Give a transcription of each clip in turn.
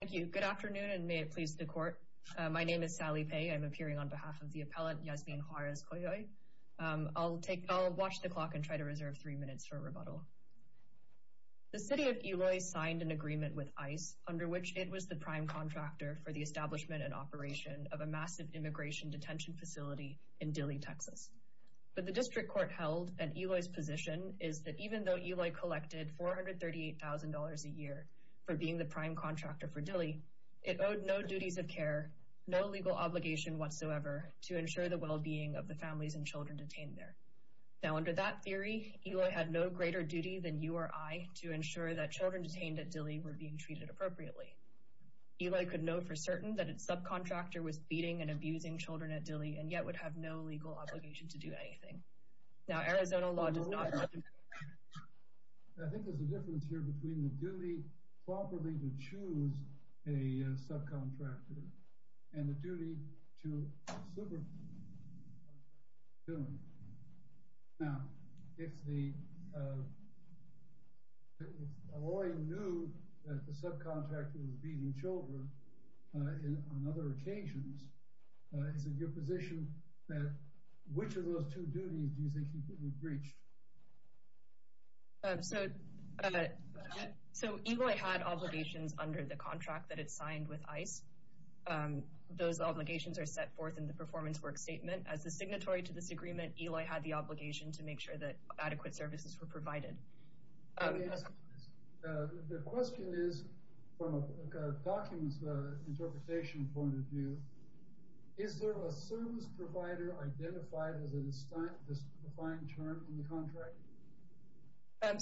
Thank you. Good afternoon, and may it please the Court. My name is Sally Pei. I'm appearing on behalf of the appellant, Yasmin Juarez Coyoy. I'll watch the clock and try to reserve three minutes for rebuttal. The City of Eloy signed an agreement with ICE, under which it was the prime contractor for the establishment and operation of a massive immigration detention facility in Dilley, Texas. But the District Court held that Eloy's position is that even though Eloy collected $438,000 a year for being the prime contractor for Dilley, it owed no duties of care, no legal obligation whatsoever to ensure the well-being of the families and children detained there. Now, under that theory, Eloy had no greater duty than you or I to ensure that children detained at Dilley were being treated appropriately. Eloy could know for certain that its subcontractor was beating and abusing children at Dilley, and yet would have no legal obligation to do anything. Now, Arizona law does not... I think there's a difference here between the duty properly to choose a subcontractor and the duty to supervise. Now, if Eloy knew that the subcontractor was beating children on other occasions, is it your position that which of those two duties do you think he could be breached? So, Eloy had obligations under the contract that it signed with ICE. Those obligations are set forth in the performance work statement. As the signatory to this agreement, Eloy had the obligation to make sure that adequate services were provided. Let me ask you this. The question is, from a documents interpretation point of view, is there a service provider identified as a defined term in the contract?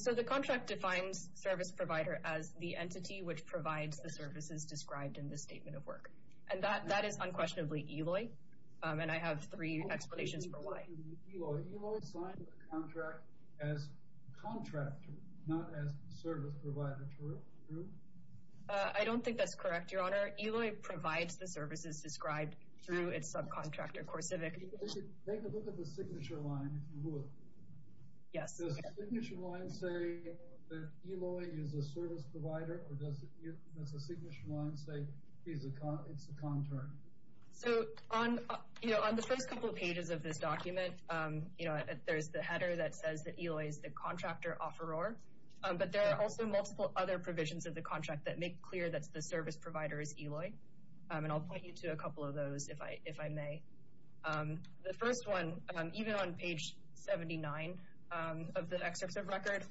So, the contract defines service provider as the entity which provides the services described in the statement of work. And that is unquestionably Eloy, and I have three explanations for why. Eloy signed the contract as contractor, not as service provider, true? I don't think that's correct, Your Honor. Eloy provides the services described through its subcontractor, CoreCivic. Take a look at the signature line, if you would. Yes. Does the signature line say that Eloy is a service provider, or does the signature line say it's a contract? So, on the first couple of pages of this document, there's the header that says that Eloy is the contractor offeror. But there are also multiple other provisions of the contract that make clear that the service provider is Eloy. And I'll point you to a couple of those, if I may. The first one, even on page 79 of the excerpt of record,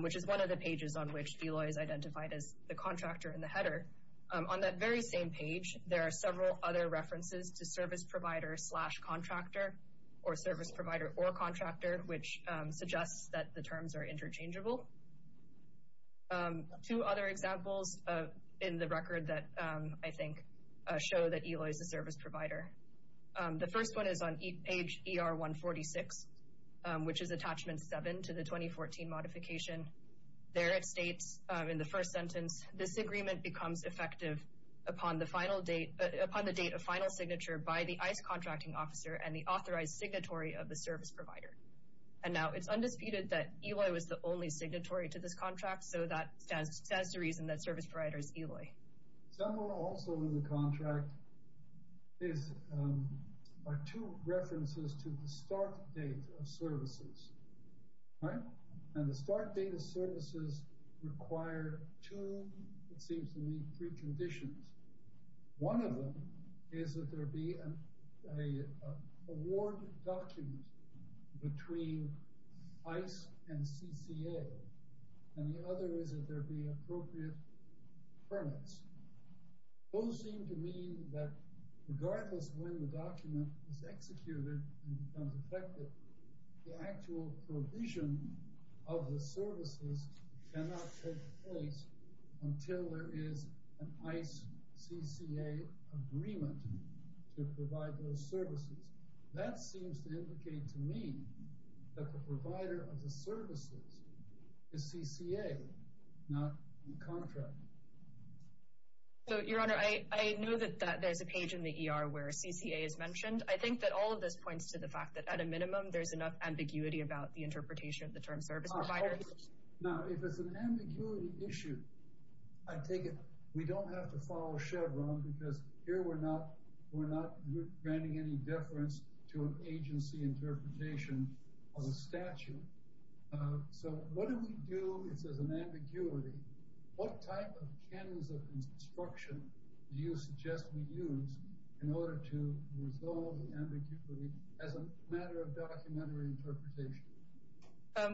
which is one of the pages on which Eloy is identified as the contractor in the header. On that very same page, there are several other references to service provider slash contractor, or service provider or contractor, which suggests that the terms are interchangeable. Two other examples in the record that I think show that Eloy is a service provider. The first one is on page ER146, which is attachment 7 to the 2014 modification. There it states, in the first sentence, this agreement becomes effective upon the date of final signature by the ICE contracting officer and the authorized signatory of the service provider. And now, it's undisputed that Eloy was the only signatory to this contract, so that stands to reason that service provider is Eloy. Also in the contract are two references to the start date of services. And the start date of services require two, it seems to me, preconditions. One of them is that there be an award document between ICE and CCA, and the other is that there be appropriate permits. Those seem to mean that regardless of when the document is executed and becomes effective, the actual provision of the services cannot take place until there is an ICE-CCA agreement to provide those services. That seems to indicate to me that the provider of the services is CCA, not the contractor. So, Your Honor, I know that there's a page in the ER where CCA is mentioned. I think that all of this points to the fact that, at a minimum, there's enough ambiguity about the interpretation of the term service provider. Now, if it's an ambiguity issue, I take it we don't have to follow Chevron because here we're not granting any deference to an agency interpretation of the statute. So, what do we do if there's an ambiguity? What type of channels of instruction do you suggest we use in order to resolve the ambiguity as a matter of documentary interpretation?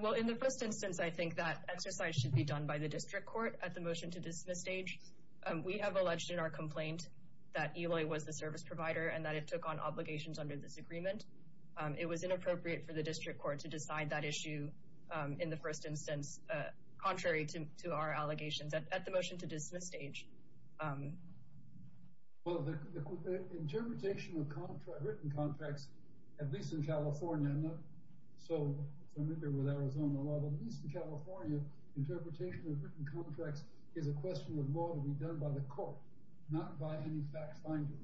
Well, in the first instance, I think that exercise should be done by the district court at the motion to dismiss stage. We have alleged in our complaint that Eloy was the service provider and that it took on obligations under this agreement. It was inappropriate for the district court to decide that issue in the first instance, contrary to our allegations at the motion to dismiss stage. Well, the interpretation of written contracts, at least in California, I'm not so familiar with Arizona law, but at least in California, interpretation of written contracts is a question of law to be done by the court, not by any fact finder.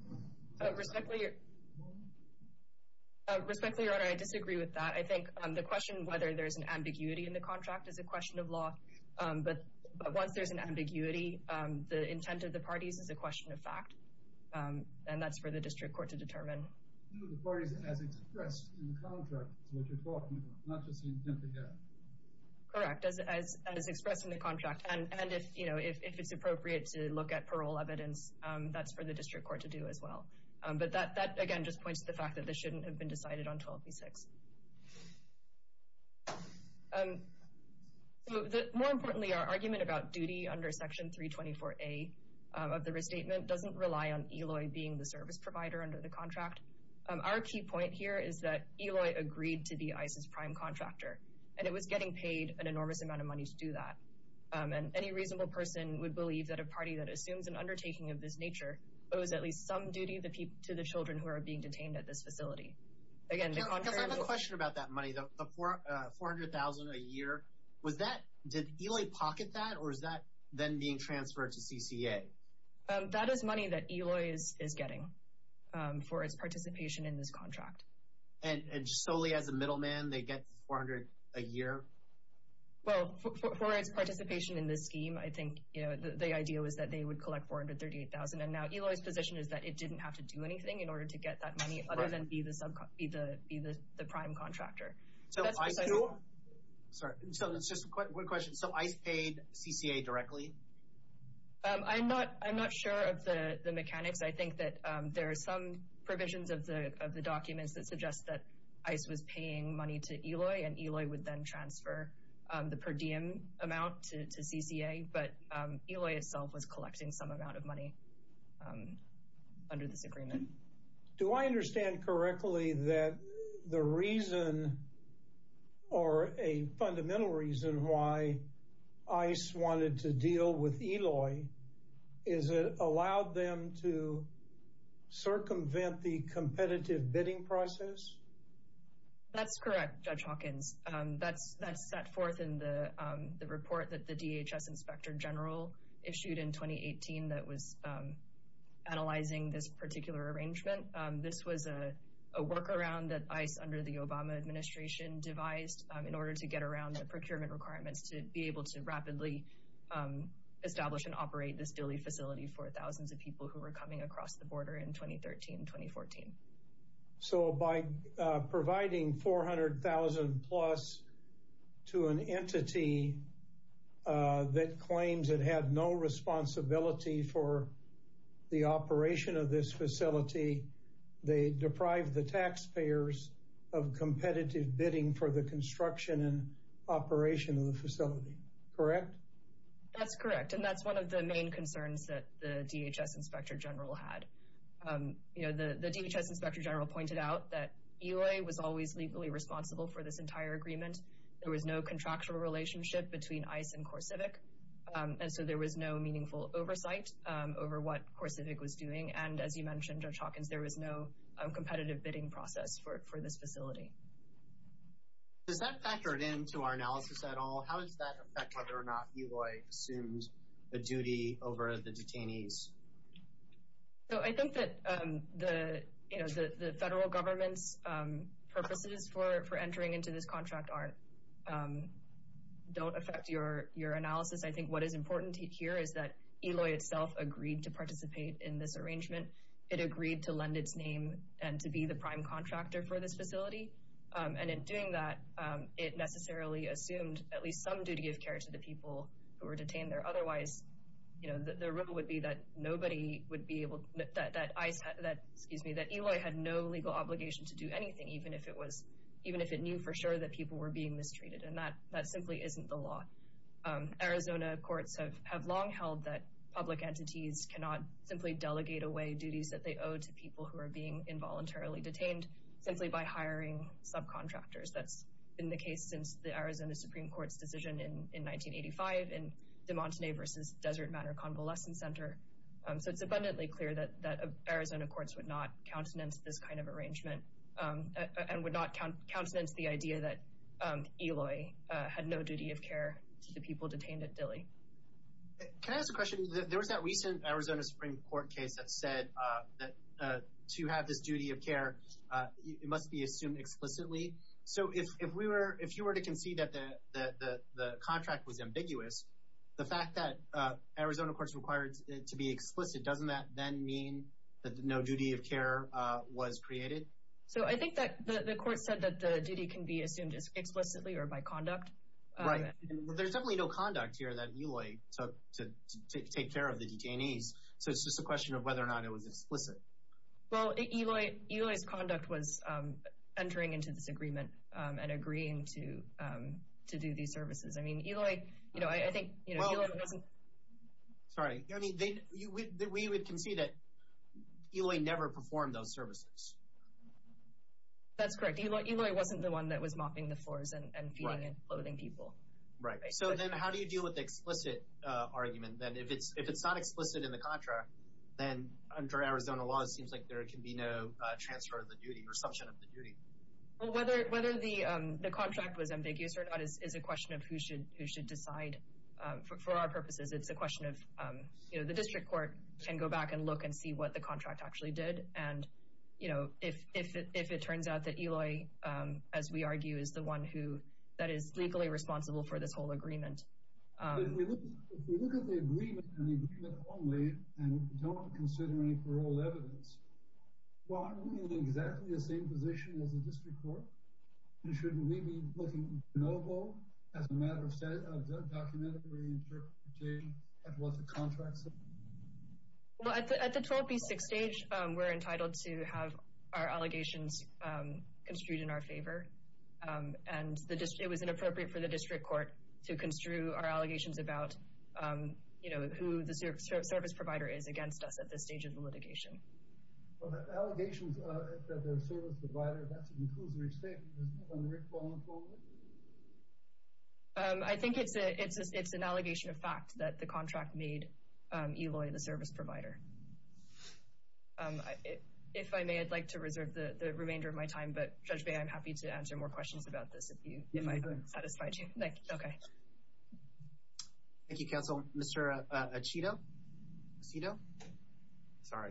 Respectfully, Your Honor, I disagree with that. I think the question whether there's an ambiguity in the contract is a question of law, but once there's an ambiguity, the intent of the parties is a question of fact, and that's for the district court to determine. No, the parties as expressed in the contract is what you're talking about, not just the intent they have. Correct, as expressed in the contract, and if it's appropriate to look at parole evidence, that's for the district court to do as well. But that, again, just points to the fact that this shouldn't have been decided on 12B6. More importantly, our argument about duty under Section 324A of the restatement doesn't rely on Eloy being the service provider under the contract. Our key point here is that Eloy agreed to be ICE's prime contractor, and it was getting paid an enormous amount of money to do that, and any reasonable person would believe that a party that assumes an undertaking of this nature owes at least some duty to the children who are being detained at this facility. I have a question about that money, the $400,000 a year. Did Eloy pocket that, or is that then being transferred to CCA? That is money that Eloy is getting for its participation in this contract. And solely as a middleman, they get $400,000 a year? Well, for its participation in this scheme, I think the idea was that they would collect $438,000, and now Eloy's position is that it didn't have to do anything in order to get that money other than be the prime contractor. So ICE paid CCA directly? I'm not sure of the mechanics. I think that there are some provisions of the documents that suggest that ICE was paying money to Eloy, and Eloy would then transfer the per diem amount to CCA, but Eloy itself was collecting some amount of money under this agreement. Do I understand correctly that the reason, or a fundamental reason, why ICE wanted to deal with Eloy is it allowed them to circumvent the competitive bidding process? That's correct, Judge Hawkins. That's set forth in the report that the DHS Inspector General issued in 2018 that was analyzing this particular arrangement. This was a workaround that ICE, under the Obama administration, devised in order to get around the procurement requirements to be able to rapidly establish and operate this dually facility for thousands of people who were coming across the border in 2013-2014. So by providing $400,000 plus to an entity that claims it had no responsibility for the operation of this facility, they deprived the taxpayers of competitive bidding for the construction and operation of the facility, correct? That's correct, and that's one of the main concerns that the DHS Inspector General had. The DHS Inspector General pointed out that Eloy was always legally responsible for this entire agreement. There was no contractual relationship between ICE and CoreCivic, and so there was no meaningful oversight over what CoreCivic was doing. And as you mentioned, Judge Hawkins, there was no competitive bidding process for this facility. Does that factor into our analysis at all? How does that affect whether or not Eloy assumes the duty over the detainees? So I think that the federal government's purposes for entering into this contract don't affect your analysis. I think what is important here is that Eloy itself agreed to participate in this arrangement. It agreed to lend its name and to be the prime contractor for this facility. And in doing that, it necessarily assumed at least some duty of care to the people who were detained there. Otherwise, the rule would be that Eloy had no legal obligation to do anything, even if it knew for sure that people were being mistreated, and that simply isn't the law. Arizona courts have long held that public entities cannot simply delegate away duties that they owe to people who are being involuntarily detained simply by hiring subcontractors. That's been the case since the Arizona Supreme Court's decision in 1985 in de Montenegro's Desert Manor Convalescent Center. So it's abundantly clear that Arizona courts would not countenance this kind of arrangement and would not countenance the idea that Eloy had no duty of care to the people detained at Dilley. Can I ask a question? There was that recent Arizona Supreme Court case that said that to have this duty of care, it must be assumed explicitly. So if you were to concede that the contract was ambiguous, the fact that Arizona courts required it to be explicit, doesn't that then mean that no duty of care was created? So I think that the court said that the duty can be assumed explicitly or by conduct. Right. There's definitely no conduct here that Eloy took to take care of the detainees. So it's just a question of whether or not it was explicit. Well, Eloy's conduct was entering into this agreement and agreeing to do these services. I mean, Eloy, you know, I think Eloy wasn't... Sorry. I mean, we would concede that Eloy never performed those services. That's correct. Eloy wasn't the one that was mopping the floors and feeding and clothing people. Right. So then how do you deal with the explicit argument? Then if it's not explicit in the contract, then under Arizona law, it seems like there can be no transfer of the duty or assumption of the duty. Well, whether the contract was ambiguous or not is a question of who should decide. For our purposes, it's a question of, you know, the district court can go back and look and see what the contract actually did. And, you know, if it turns out that Eloy, as we argue, is the one who that is legally responsible for this whole agreement. If we look at the agreement and the agreement only and don't consider any parole evidence, why aren't we in exactly the same position as the district court? And shouldn't we be looking no-go as a matter of documentary interpretation at what the contract said? Well, at the 12B6 stage, we're entitled to have our allegations construed in our favor. And it was inappropriate for the district court to construe our allegations about, you know, who the service provider is against us at this stage of the litigation. Well, the allegations that there's a service provider, that's a conclusory statement. Isn't that unwritten, vulnerable? I think it's an allegation of fact that the contract made Eloy the service provider. If I may, I'd like to reserve the remainder of my time. But, Judge May, I'm happy to answer more questions about this if I've satisfied you. Thank you. Okay. Thank you, counsel. Mr. Aceto? Sorry.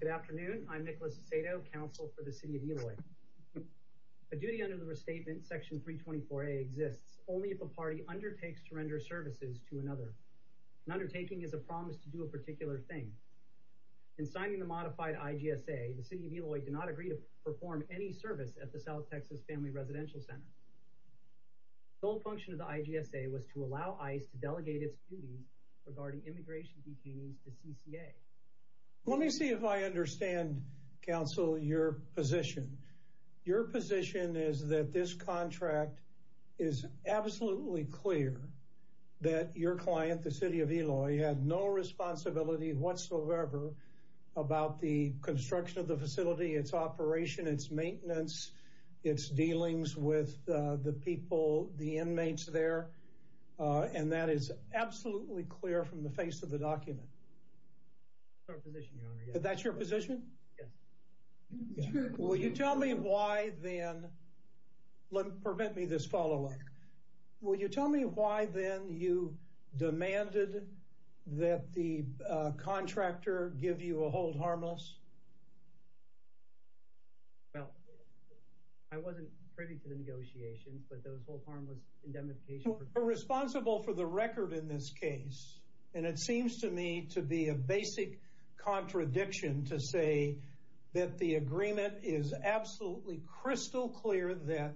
Good afternoon. I'm Nicholas Aceto, counsel for the city of Eloy. A duty under the restatement, section 324A, exists only if a party undertakes to render services to another. An undertaking is a promise to do a particular thing. In signing the modified IGSA, the city of Eloy did not agree to perform any service at the South Texas Family Residential Center. The sole function of the IGSA was to allow ICE to delegate its duties regarding immigration detainees to CCA. Let me see if I understand, counsel, your position. Your position is that this contract is absolutely clear that your client, the city of Eloy, had no responsibility whatsoever about the construction of the facility, its operation, its maintenance, its dealings with the people, the inmates there. And that is absolutely clear from the face of the document. That's our position, your honor. That's your position? Yes. Will you tell me why, then, let me prevent me this follow-up. Will you tell me why, then, you demanded that the contractor give you a hold harmless? Well, I wasn't privy to the negotiations, but those hold harmless indemnification... We're responsible for the record in this case, and it seems to me to be a basic contradiction to say that the agreement is absolutely crystal clear that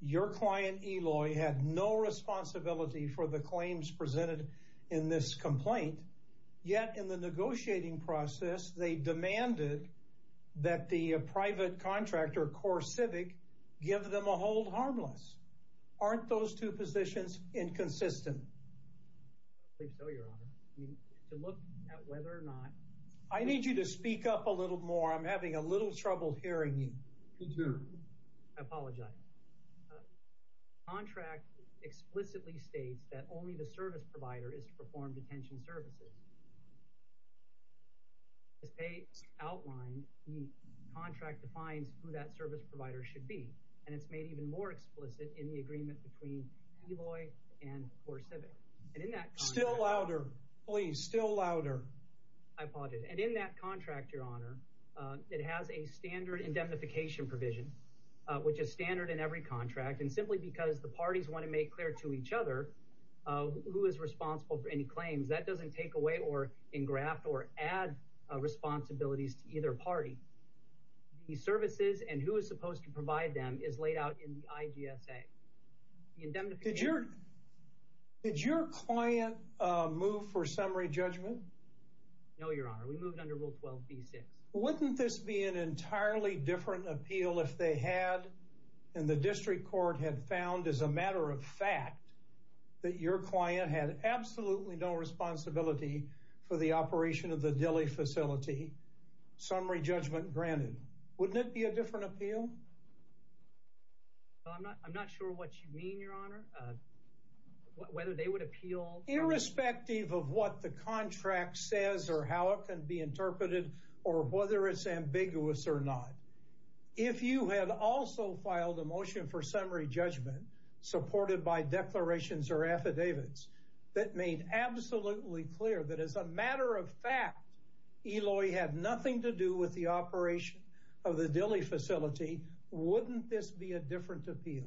your client, Eloy, had no responsibility for the claims presented in this complaint. Yet, in the negotiating process, they demanded that the private contractor, CoreCivic, give them a hold harmless. Aren't those two positions inconsistent? I believe so, your honor. I mean, to look at whether or not... I need you to speak up a little more. I'm having a little trouble hearing you. Me, too. I apologize. The contract explicitly states that only the service provider is to perform detention services. As Paige outlined, the contract defines who that service provider should be, and it's made even more explicit in the agreement between Eloy and CoreCivic. Still louder. Please, still louder. I apologize. And in that contract, your honor, it has a standard indemnification provision, which is standard in every contract. And simply because the parties want to make clear to each other who is responsible for any claims, that doesn't take away or engraft or add responsibilities to either party. The services and who is supposed to provide them is laid out in the IGSA. The indemnification... Did your client move for summary judgment? No, your honor. We moved under Rule 12b-6. Wouldn't this be an entirely different appeal if they had, and the district court had found as a matter of fact, that your client had absolutely no responsibility for the operation of the Dilley facility? They would have had the summary judgment granted. Wouldn't it be a different appeal? I'm not sure what you mean, your honor, whether they would appeal... Irrespective of what the contract says or how it can be interpreted or whether it's ambiguous or not. If you had also filed a motion for summary judgment supported by declarations or affidavits that made absolutely clear that as a matter of fact, Eloy had nothing to do with the operation of the Dilley facility, wouldn't this be a different appeal?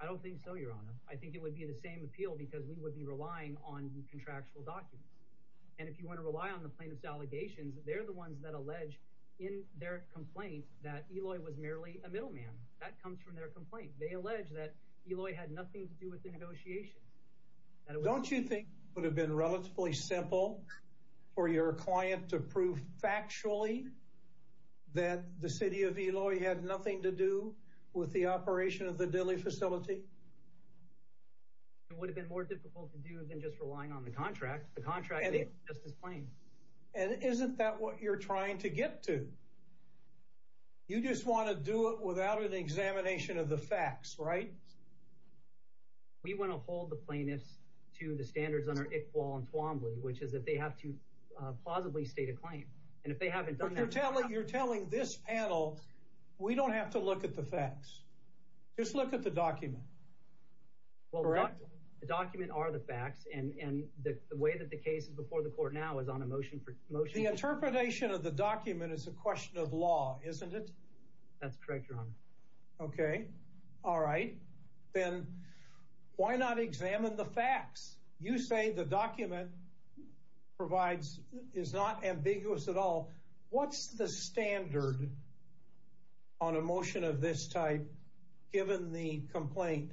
I don't think so, your honor. I think it would be the same appeal because we would be relying on contractual documents. And if you want to rely on the plaintiff's allegations, they're the ones that allege in their complaint that Eloy was merely a middleman. That comes from their complaint. They allege that Eloy had nothing to do with the negotiations. Don't you think it would have been relatively simple for your client to prove factually that the city of Eloy had nothing to do with the operation of the Dilley facility? It would have been more difficult to do than just relying on the contract. The contract is just as plain. And isn't that what you're trying to get to? You just want to do it without an examination of the facts, right? We want to hold the plaintiffs to the standards under Iqbal and Twombly, which is that they have to plausibly state a claim. And if they haven't done that— But you're telling this panel we don't have to look at the facts. Just look at the document. Well, the document are the facts. And the way that the case is before the court now is on a motion for— The interpretation of the document is a question of law, isn't it? That's correct, Your Honor. Okay. All right. Then why not examine the facts? You say the document provides—is not ambiguous at all. What's the standard on a motion of this type given the complaint?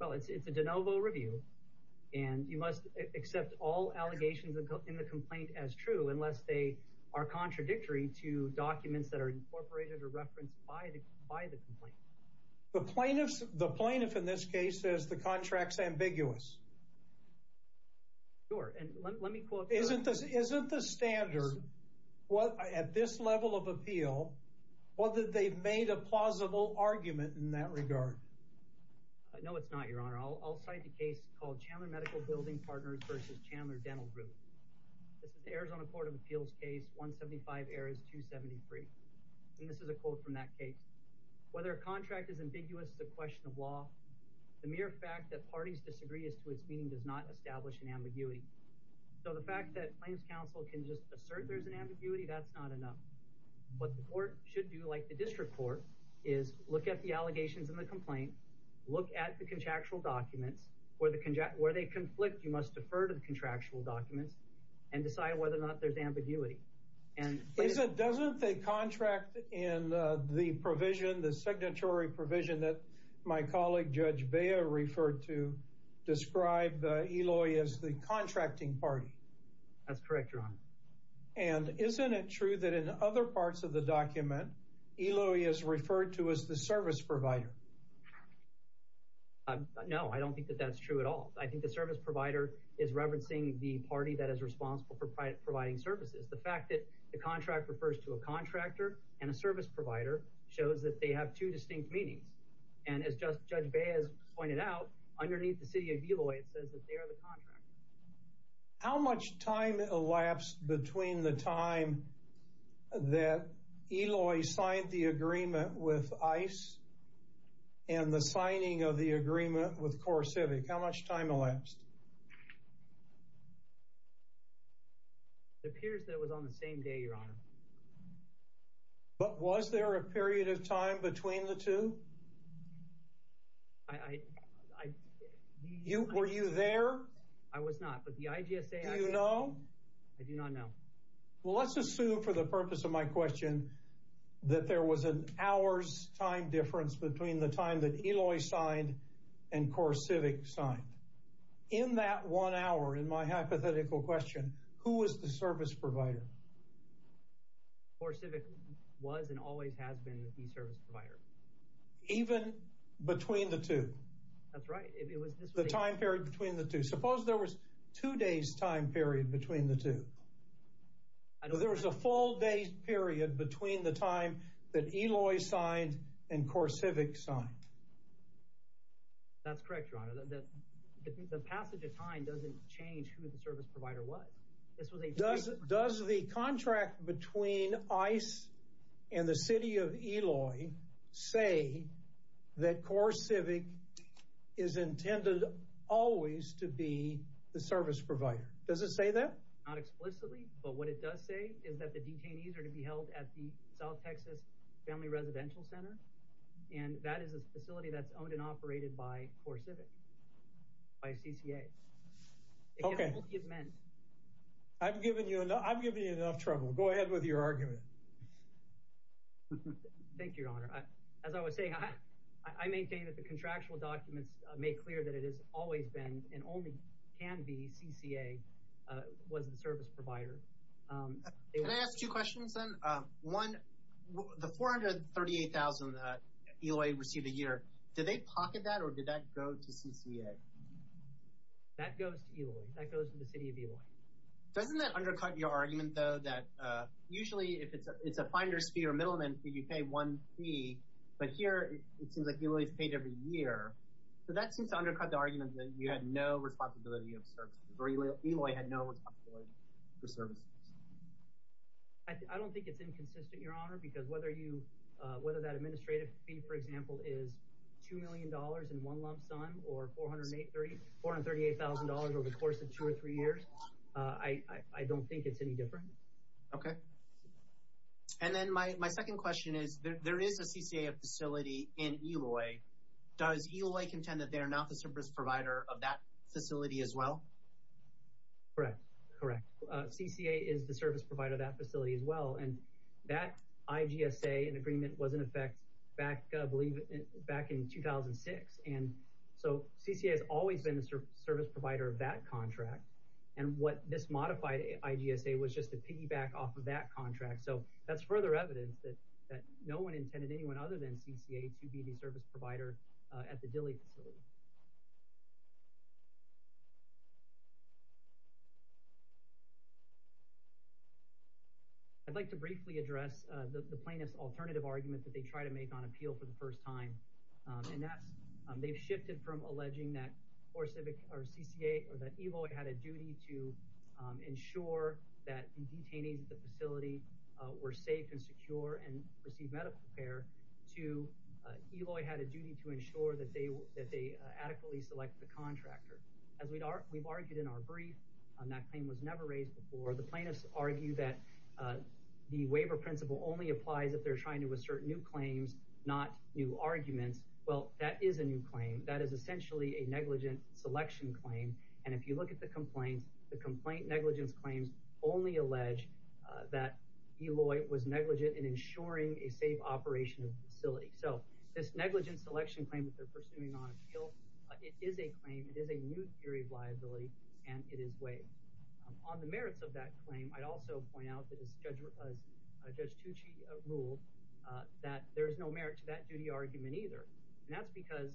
Well, it's a de novo review. And you must accept all allegations in the complaint as true unless they are contradictory to documents that are incorporated or referenced by the complaint. The plaintiff in this case says the contract's ambiguous. Sure. And let me quote— Isn't the standard at this level of appeal, whether they've made a plausible argument in that regard? No, it's not, Your Honor. I'll cite the case called Chandler Medical Building Partners v. Chandler Dental Group. This is the Arizona Court of Appeals case, 175 errors, 273. And this is a quote from that case. Whether a contract is ambiguous is a question of law. The mere fact that parties disagree as to its meaning does not establish an ambiguity. So the fact that claims counsel can just assert there's an ambiguity, that's not enough. What the court should do, like the district court, is look at the allegations in the complaint, look at the contractual documents. Where they conflict, you must defer to the contractual documents and decide whether or not there's ambiguity. Doesn't the contract in the provision, the signatory provision, that my colleague Judge Bea referred to describe Eloy as the contracting party? That's correct, Your Honor. And isn't it true that in other parts of the document Eloy is referred to as the service provider? No, I don't think that that's true at all. I think the service provider is referencing the party that is responsible for providing services. The fact that the contract refers to a contractor and a service provider shows that they have two distinct meanings. And as Judge Bea has pointed out, underneath the city of Eloy it says that they are the contractor. How much time elapsed between the time that Eloy signed the agreement with ICE and the signing of the agreement with CoreCivic? How much time elapsed? It appears that it was on the same day, Your Honor. But was there a period of time between the two? Were you there? I was not, but the IGSA actually... Do you know? I do not know. Well, let's assume for the purpose of my question that there was an hour's time difference between the time that Eloy signed and CoreCivic signed. In that one hour, in my hypothetical question, who was the service provider? CoreCivic was and always has been the service provider. Even between the two? That's right. The time period between the two. Suppose there was two days' time period between the two. There was a full day's period between the time that Eloy signed and CoreCivic signed. That's correct, Your Honor. The passage of time doesn't change who the service provider was. Does the contract between ICE and the city of Eloy say that CoreCivic is intended always to be the service provider? Does it say that? Not explicitly, but what it does say is that the detainees are to be held at the South Texas Family Residential Center, and that is a facility that's owned and operated by CoreCivic, by CCA. Okay. I've given you enough trouble. Go ahead with your argument. Thank you, Your Honor. As I was saying, I maintain that the contractual documents make clear that it has always been, and only can be, CCA was the service provider. Can I ask two questions, then? One, the $438,000 Eloy received a year, did they pocket that, or did that go to CCA? That goes to Eloy. That goes to the city of Eloy. Doesn't that undercut your argument, though, that usually if it's a finder's fee or middleman fee, you pay one fee, but here it seems like Eloy's paid every year, so that seems to undercut the argument that you had no responsibility of services, or Eloy had no responsibility for services. I don't think it's inconsistent, Your Honor, because whether that administrative fee, for example, is $2 million in one lump sum, or $438,000 over the course of two or three years, I don't think it's any different. Okay. And then my second question is, there is a CCA facility in Eloy. Does Eloy contend that they are not the service provider of that facility as well? Correct, correct. CCA is the service provider of that facility as well, and that IGSA agreement was in effect back in 2006, and so CCA has always been the service provider of that contract, and what this modified IGSA was just a piggyback off of that contract, so that's further evidence that no one intended anyone other than CCA to be the service provider at the Dilley facility. I'd like to briefly address the plaintiff's alternative argument that they try to make on appeal for the first time, and that's they've shifted from alleging that CCA or that Eloy had a duty to ensure that the detainees at the facility were safe and secure and received medical care, to Eloy had a duty to ensure that they adequately select the contractor. As we've argued in our brief, that claim was never raised before. The plaintiffs argue that the waiver principle only applies if they're trying to assert new claims, not new arguments. Well, that is a new claim. That is essentially a negligent selection claim, and if you look at the complaint, the complaint negligence claims only allege that Eloy was negligent in ensuring a safe operation of the facility. So this negligent selection claim that they're pursuing on appeal, it is a claim, it is a new theory of liability, and it is waived. On the merits of that claim, I'd also point out that as Judge Tucci ruled, that there is no merit to that duty argument either, and that's because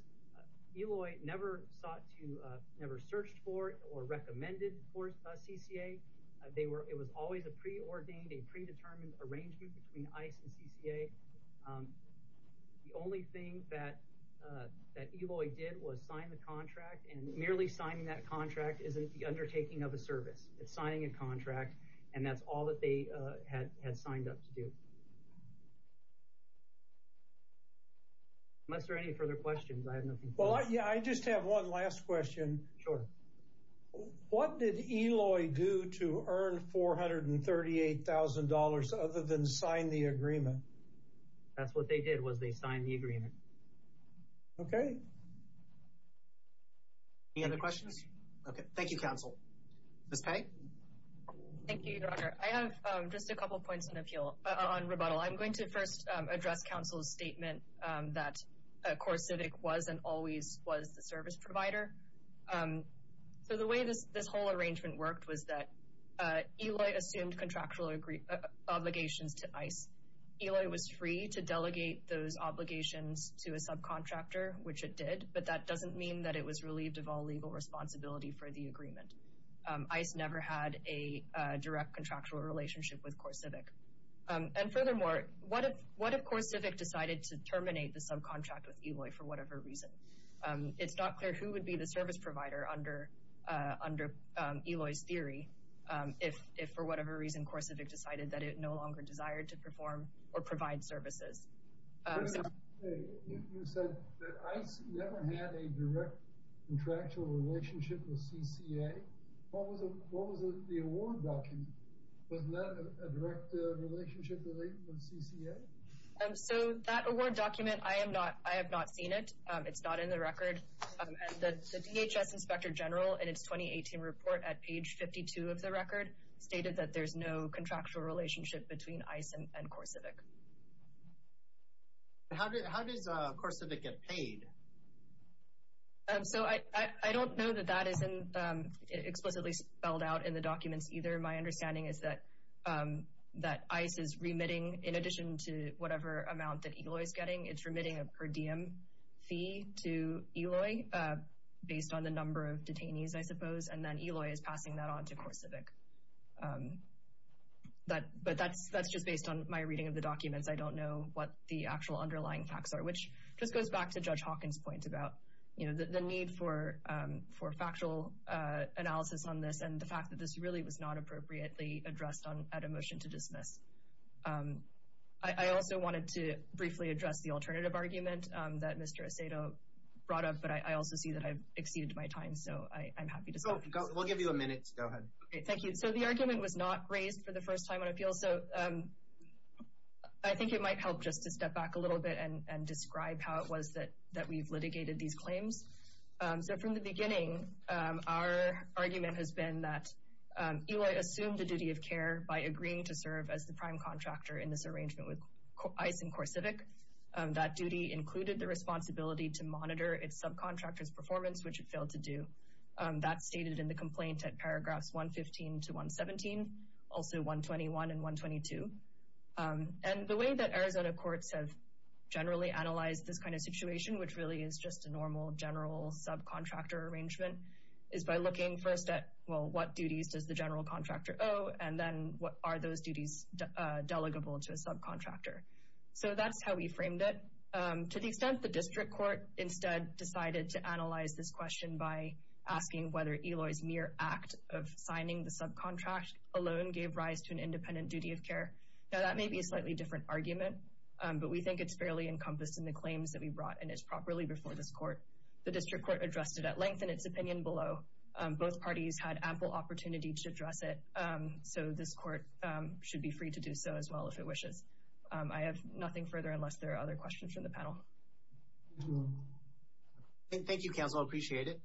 Eloy never sought to, never searched for it or recommended for CCA. It was always a preordained, a predetermined arrangement between ICE and CCA. The only thing that Eloy did was sign the contract, and merely signing that contract isn't the undertaking of a service. It's signing a contract, and that's all that they had signed up to do. Unless there are any further questions, I have nothing further. Well, yeah, I just have one last question. Sure. What did Eloy do to earn $438,000 other than sign the agreement? That's what they did was they signed the agreement. Okay. Any other questions? Okay. Thank you, counsel. Ms. Pei. Thank you, Your Honor. I have just a couple points on appeal, on rebuttal. I'm going to first address counsel's statement that CoreCivic was and always was the service provider. So the way this whole arrangement worked was that Eloy assumed contractual obligations to ICE. Eloy was free to delegate those obligations to a subcontractor, which it did, but that doesn't mean that it was relieved of all legal responsibility for the agreement. ICE never had a direct contractual relationship with CoreCivic. And furthermore, what if CoreCivic decided to terminate the subcontract with Eloy for whatever reason? It's not clear who would be the service provider under Eloy's theory if for whatever reason CoreCivic decided that it no longer desired to perform or provide services. Ms. Pei, you said that ICE never had a direct contractual relationship with CCA. What was the award document? Wasn't that a direct relationship with CCA? So that award document, I have not seen it. It's not in the record. The DHS Inspector General in its 2018 report at page 52 of the record stated that there's no contractual relationship between ICE and CoreCivic. How does CoreCivic get paid? So I don't know that that is explicitly spelled out in the documents either. My understanding is that ICE is remitting, in addition to whatever amount that Eloy is getting, it's remitting a per diem fee to Eloy based on the number of detainees, I suppose. And then Eloy is passing that on to CoreCivic. But that's just based on my reading of the documents. I don't know what the actual underlying facts are, which just goes back to Judge Hawkins' point about the need for factual analysis on this and the fact that this really was not appropriately addressed at a motion to dismiss. I also wanted to briefly address the alternative argument that Mr. Acedo brought up, but I also see that I've exceeded my time, so I'm happy to stop. We'll give you a minute. Go ahead. Okay, thank you. So the argument was not raised for the first time on appeal, so I think it might help just to step back a little bit and describe how it was that we've litigated these claims. So from the beginning, our argument has been that Eloy assumed the duty of care by agreeing to serve as the prime contractor in this arrangement with ICE and CoreCivic. That duty included the responsibility to monitor its subcontractor's performance, which it failed to do. That's stated in the complaint at paragraphs 115 to 117, also 121 and 122. And the way that Arizona courts have generally analyzed this kind of situation, which really is just a normal general subcontractor arrangement, is by looking first at, well, what duties does the general contractor owe, and then what are those duties delegable to a subcontractor. So that's how we framed it. To the extent the district court instead decided to analyze this question by asking whether Eloy's mere act of signing the subcontract alone gave rise to an independent duty of care. Now, that may be a slightly different argument, but we think it's fairly encompassed in the claims that we brought, and it's properly before this court. The district court addressed it at length in its opinion below. Both parties had ample opportunity to address it, so this court should be free to do so as well if it wishes. I have nothing further unless there are other questions from the panel. Thank you, counsel. I appreciate it.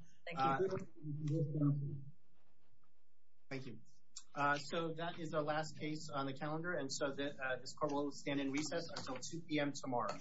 So that is our last case on the calendar, and so this court will stand in recess until 2 p.m. tomorrow.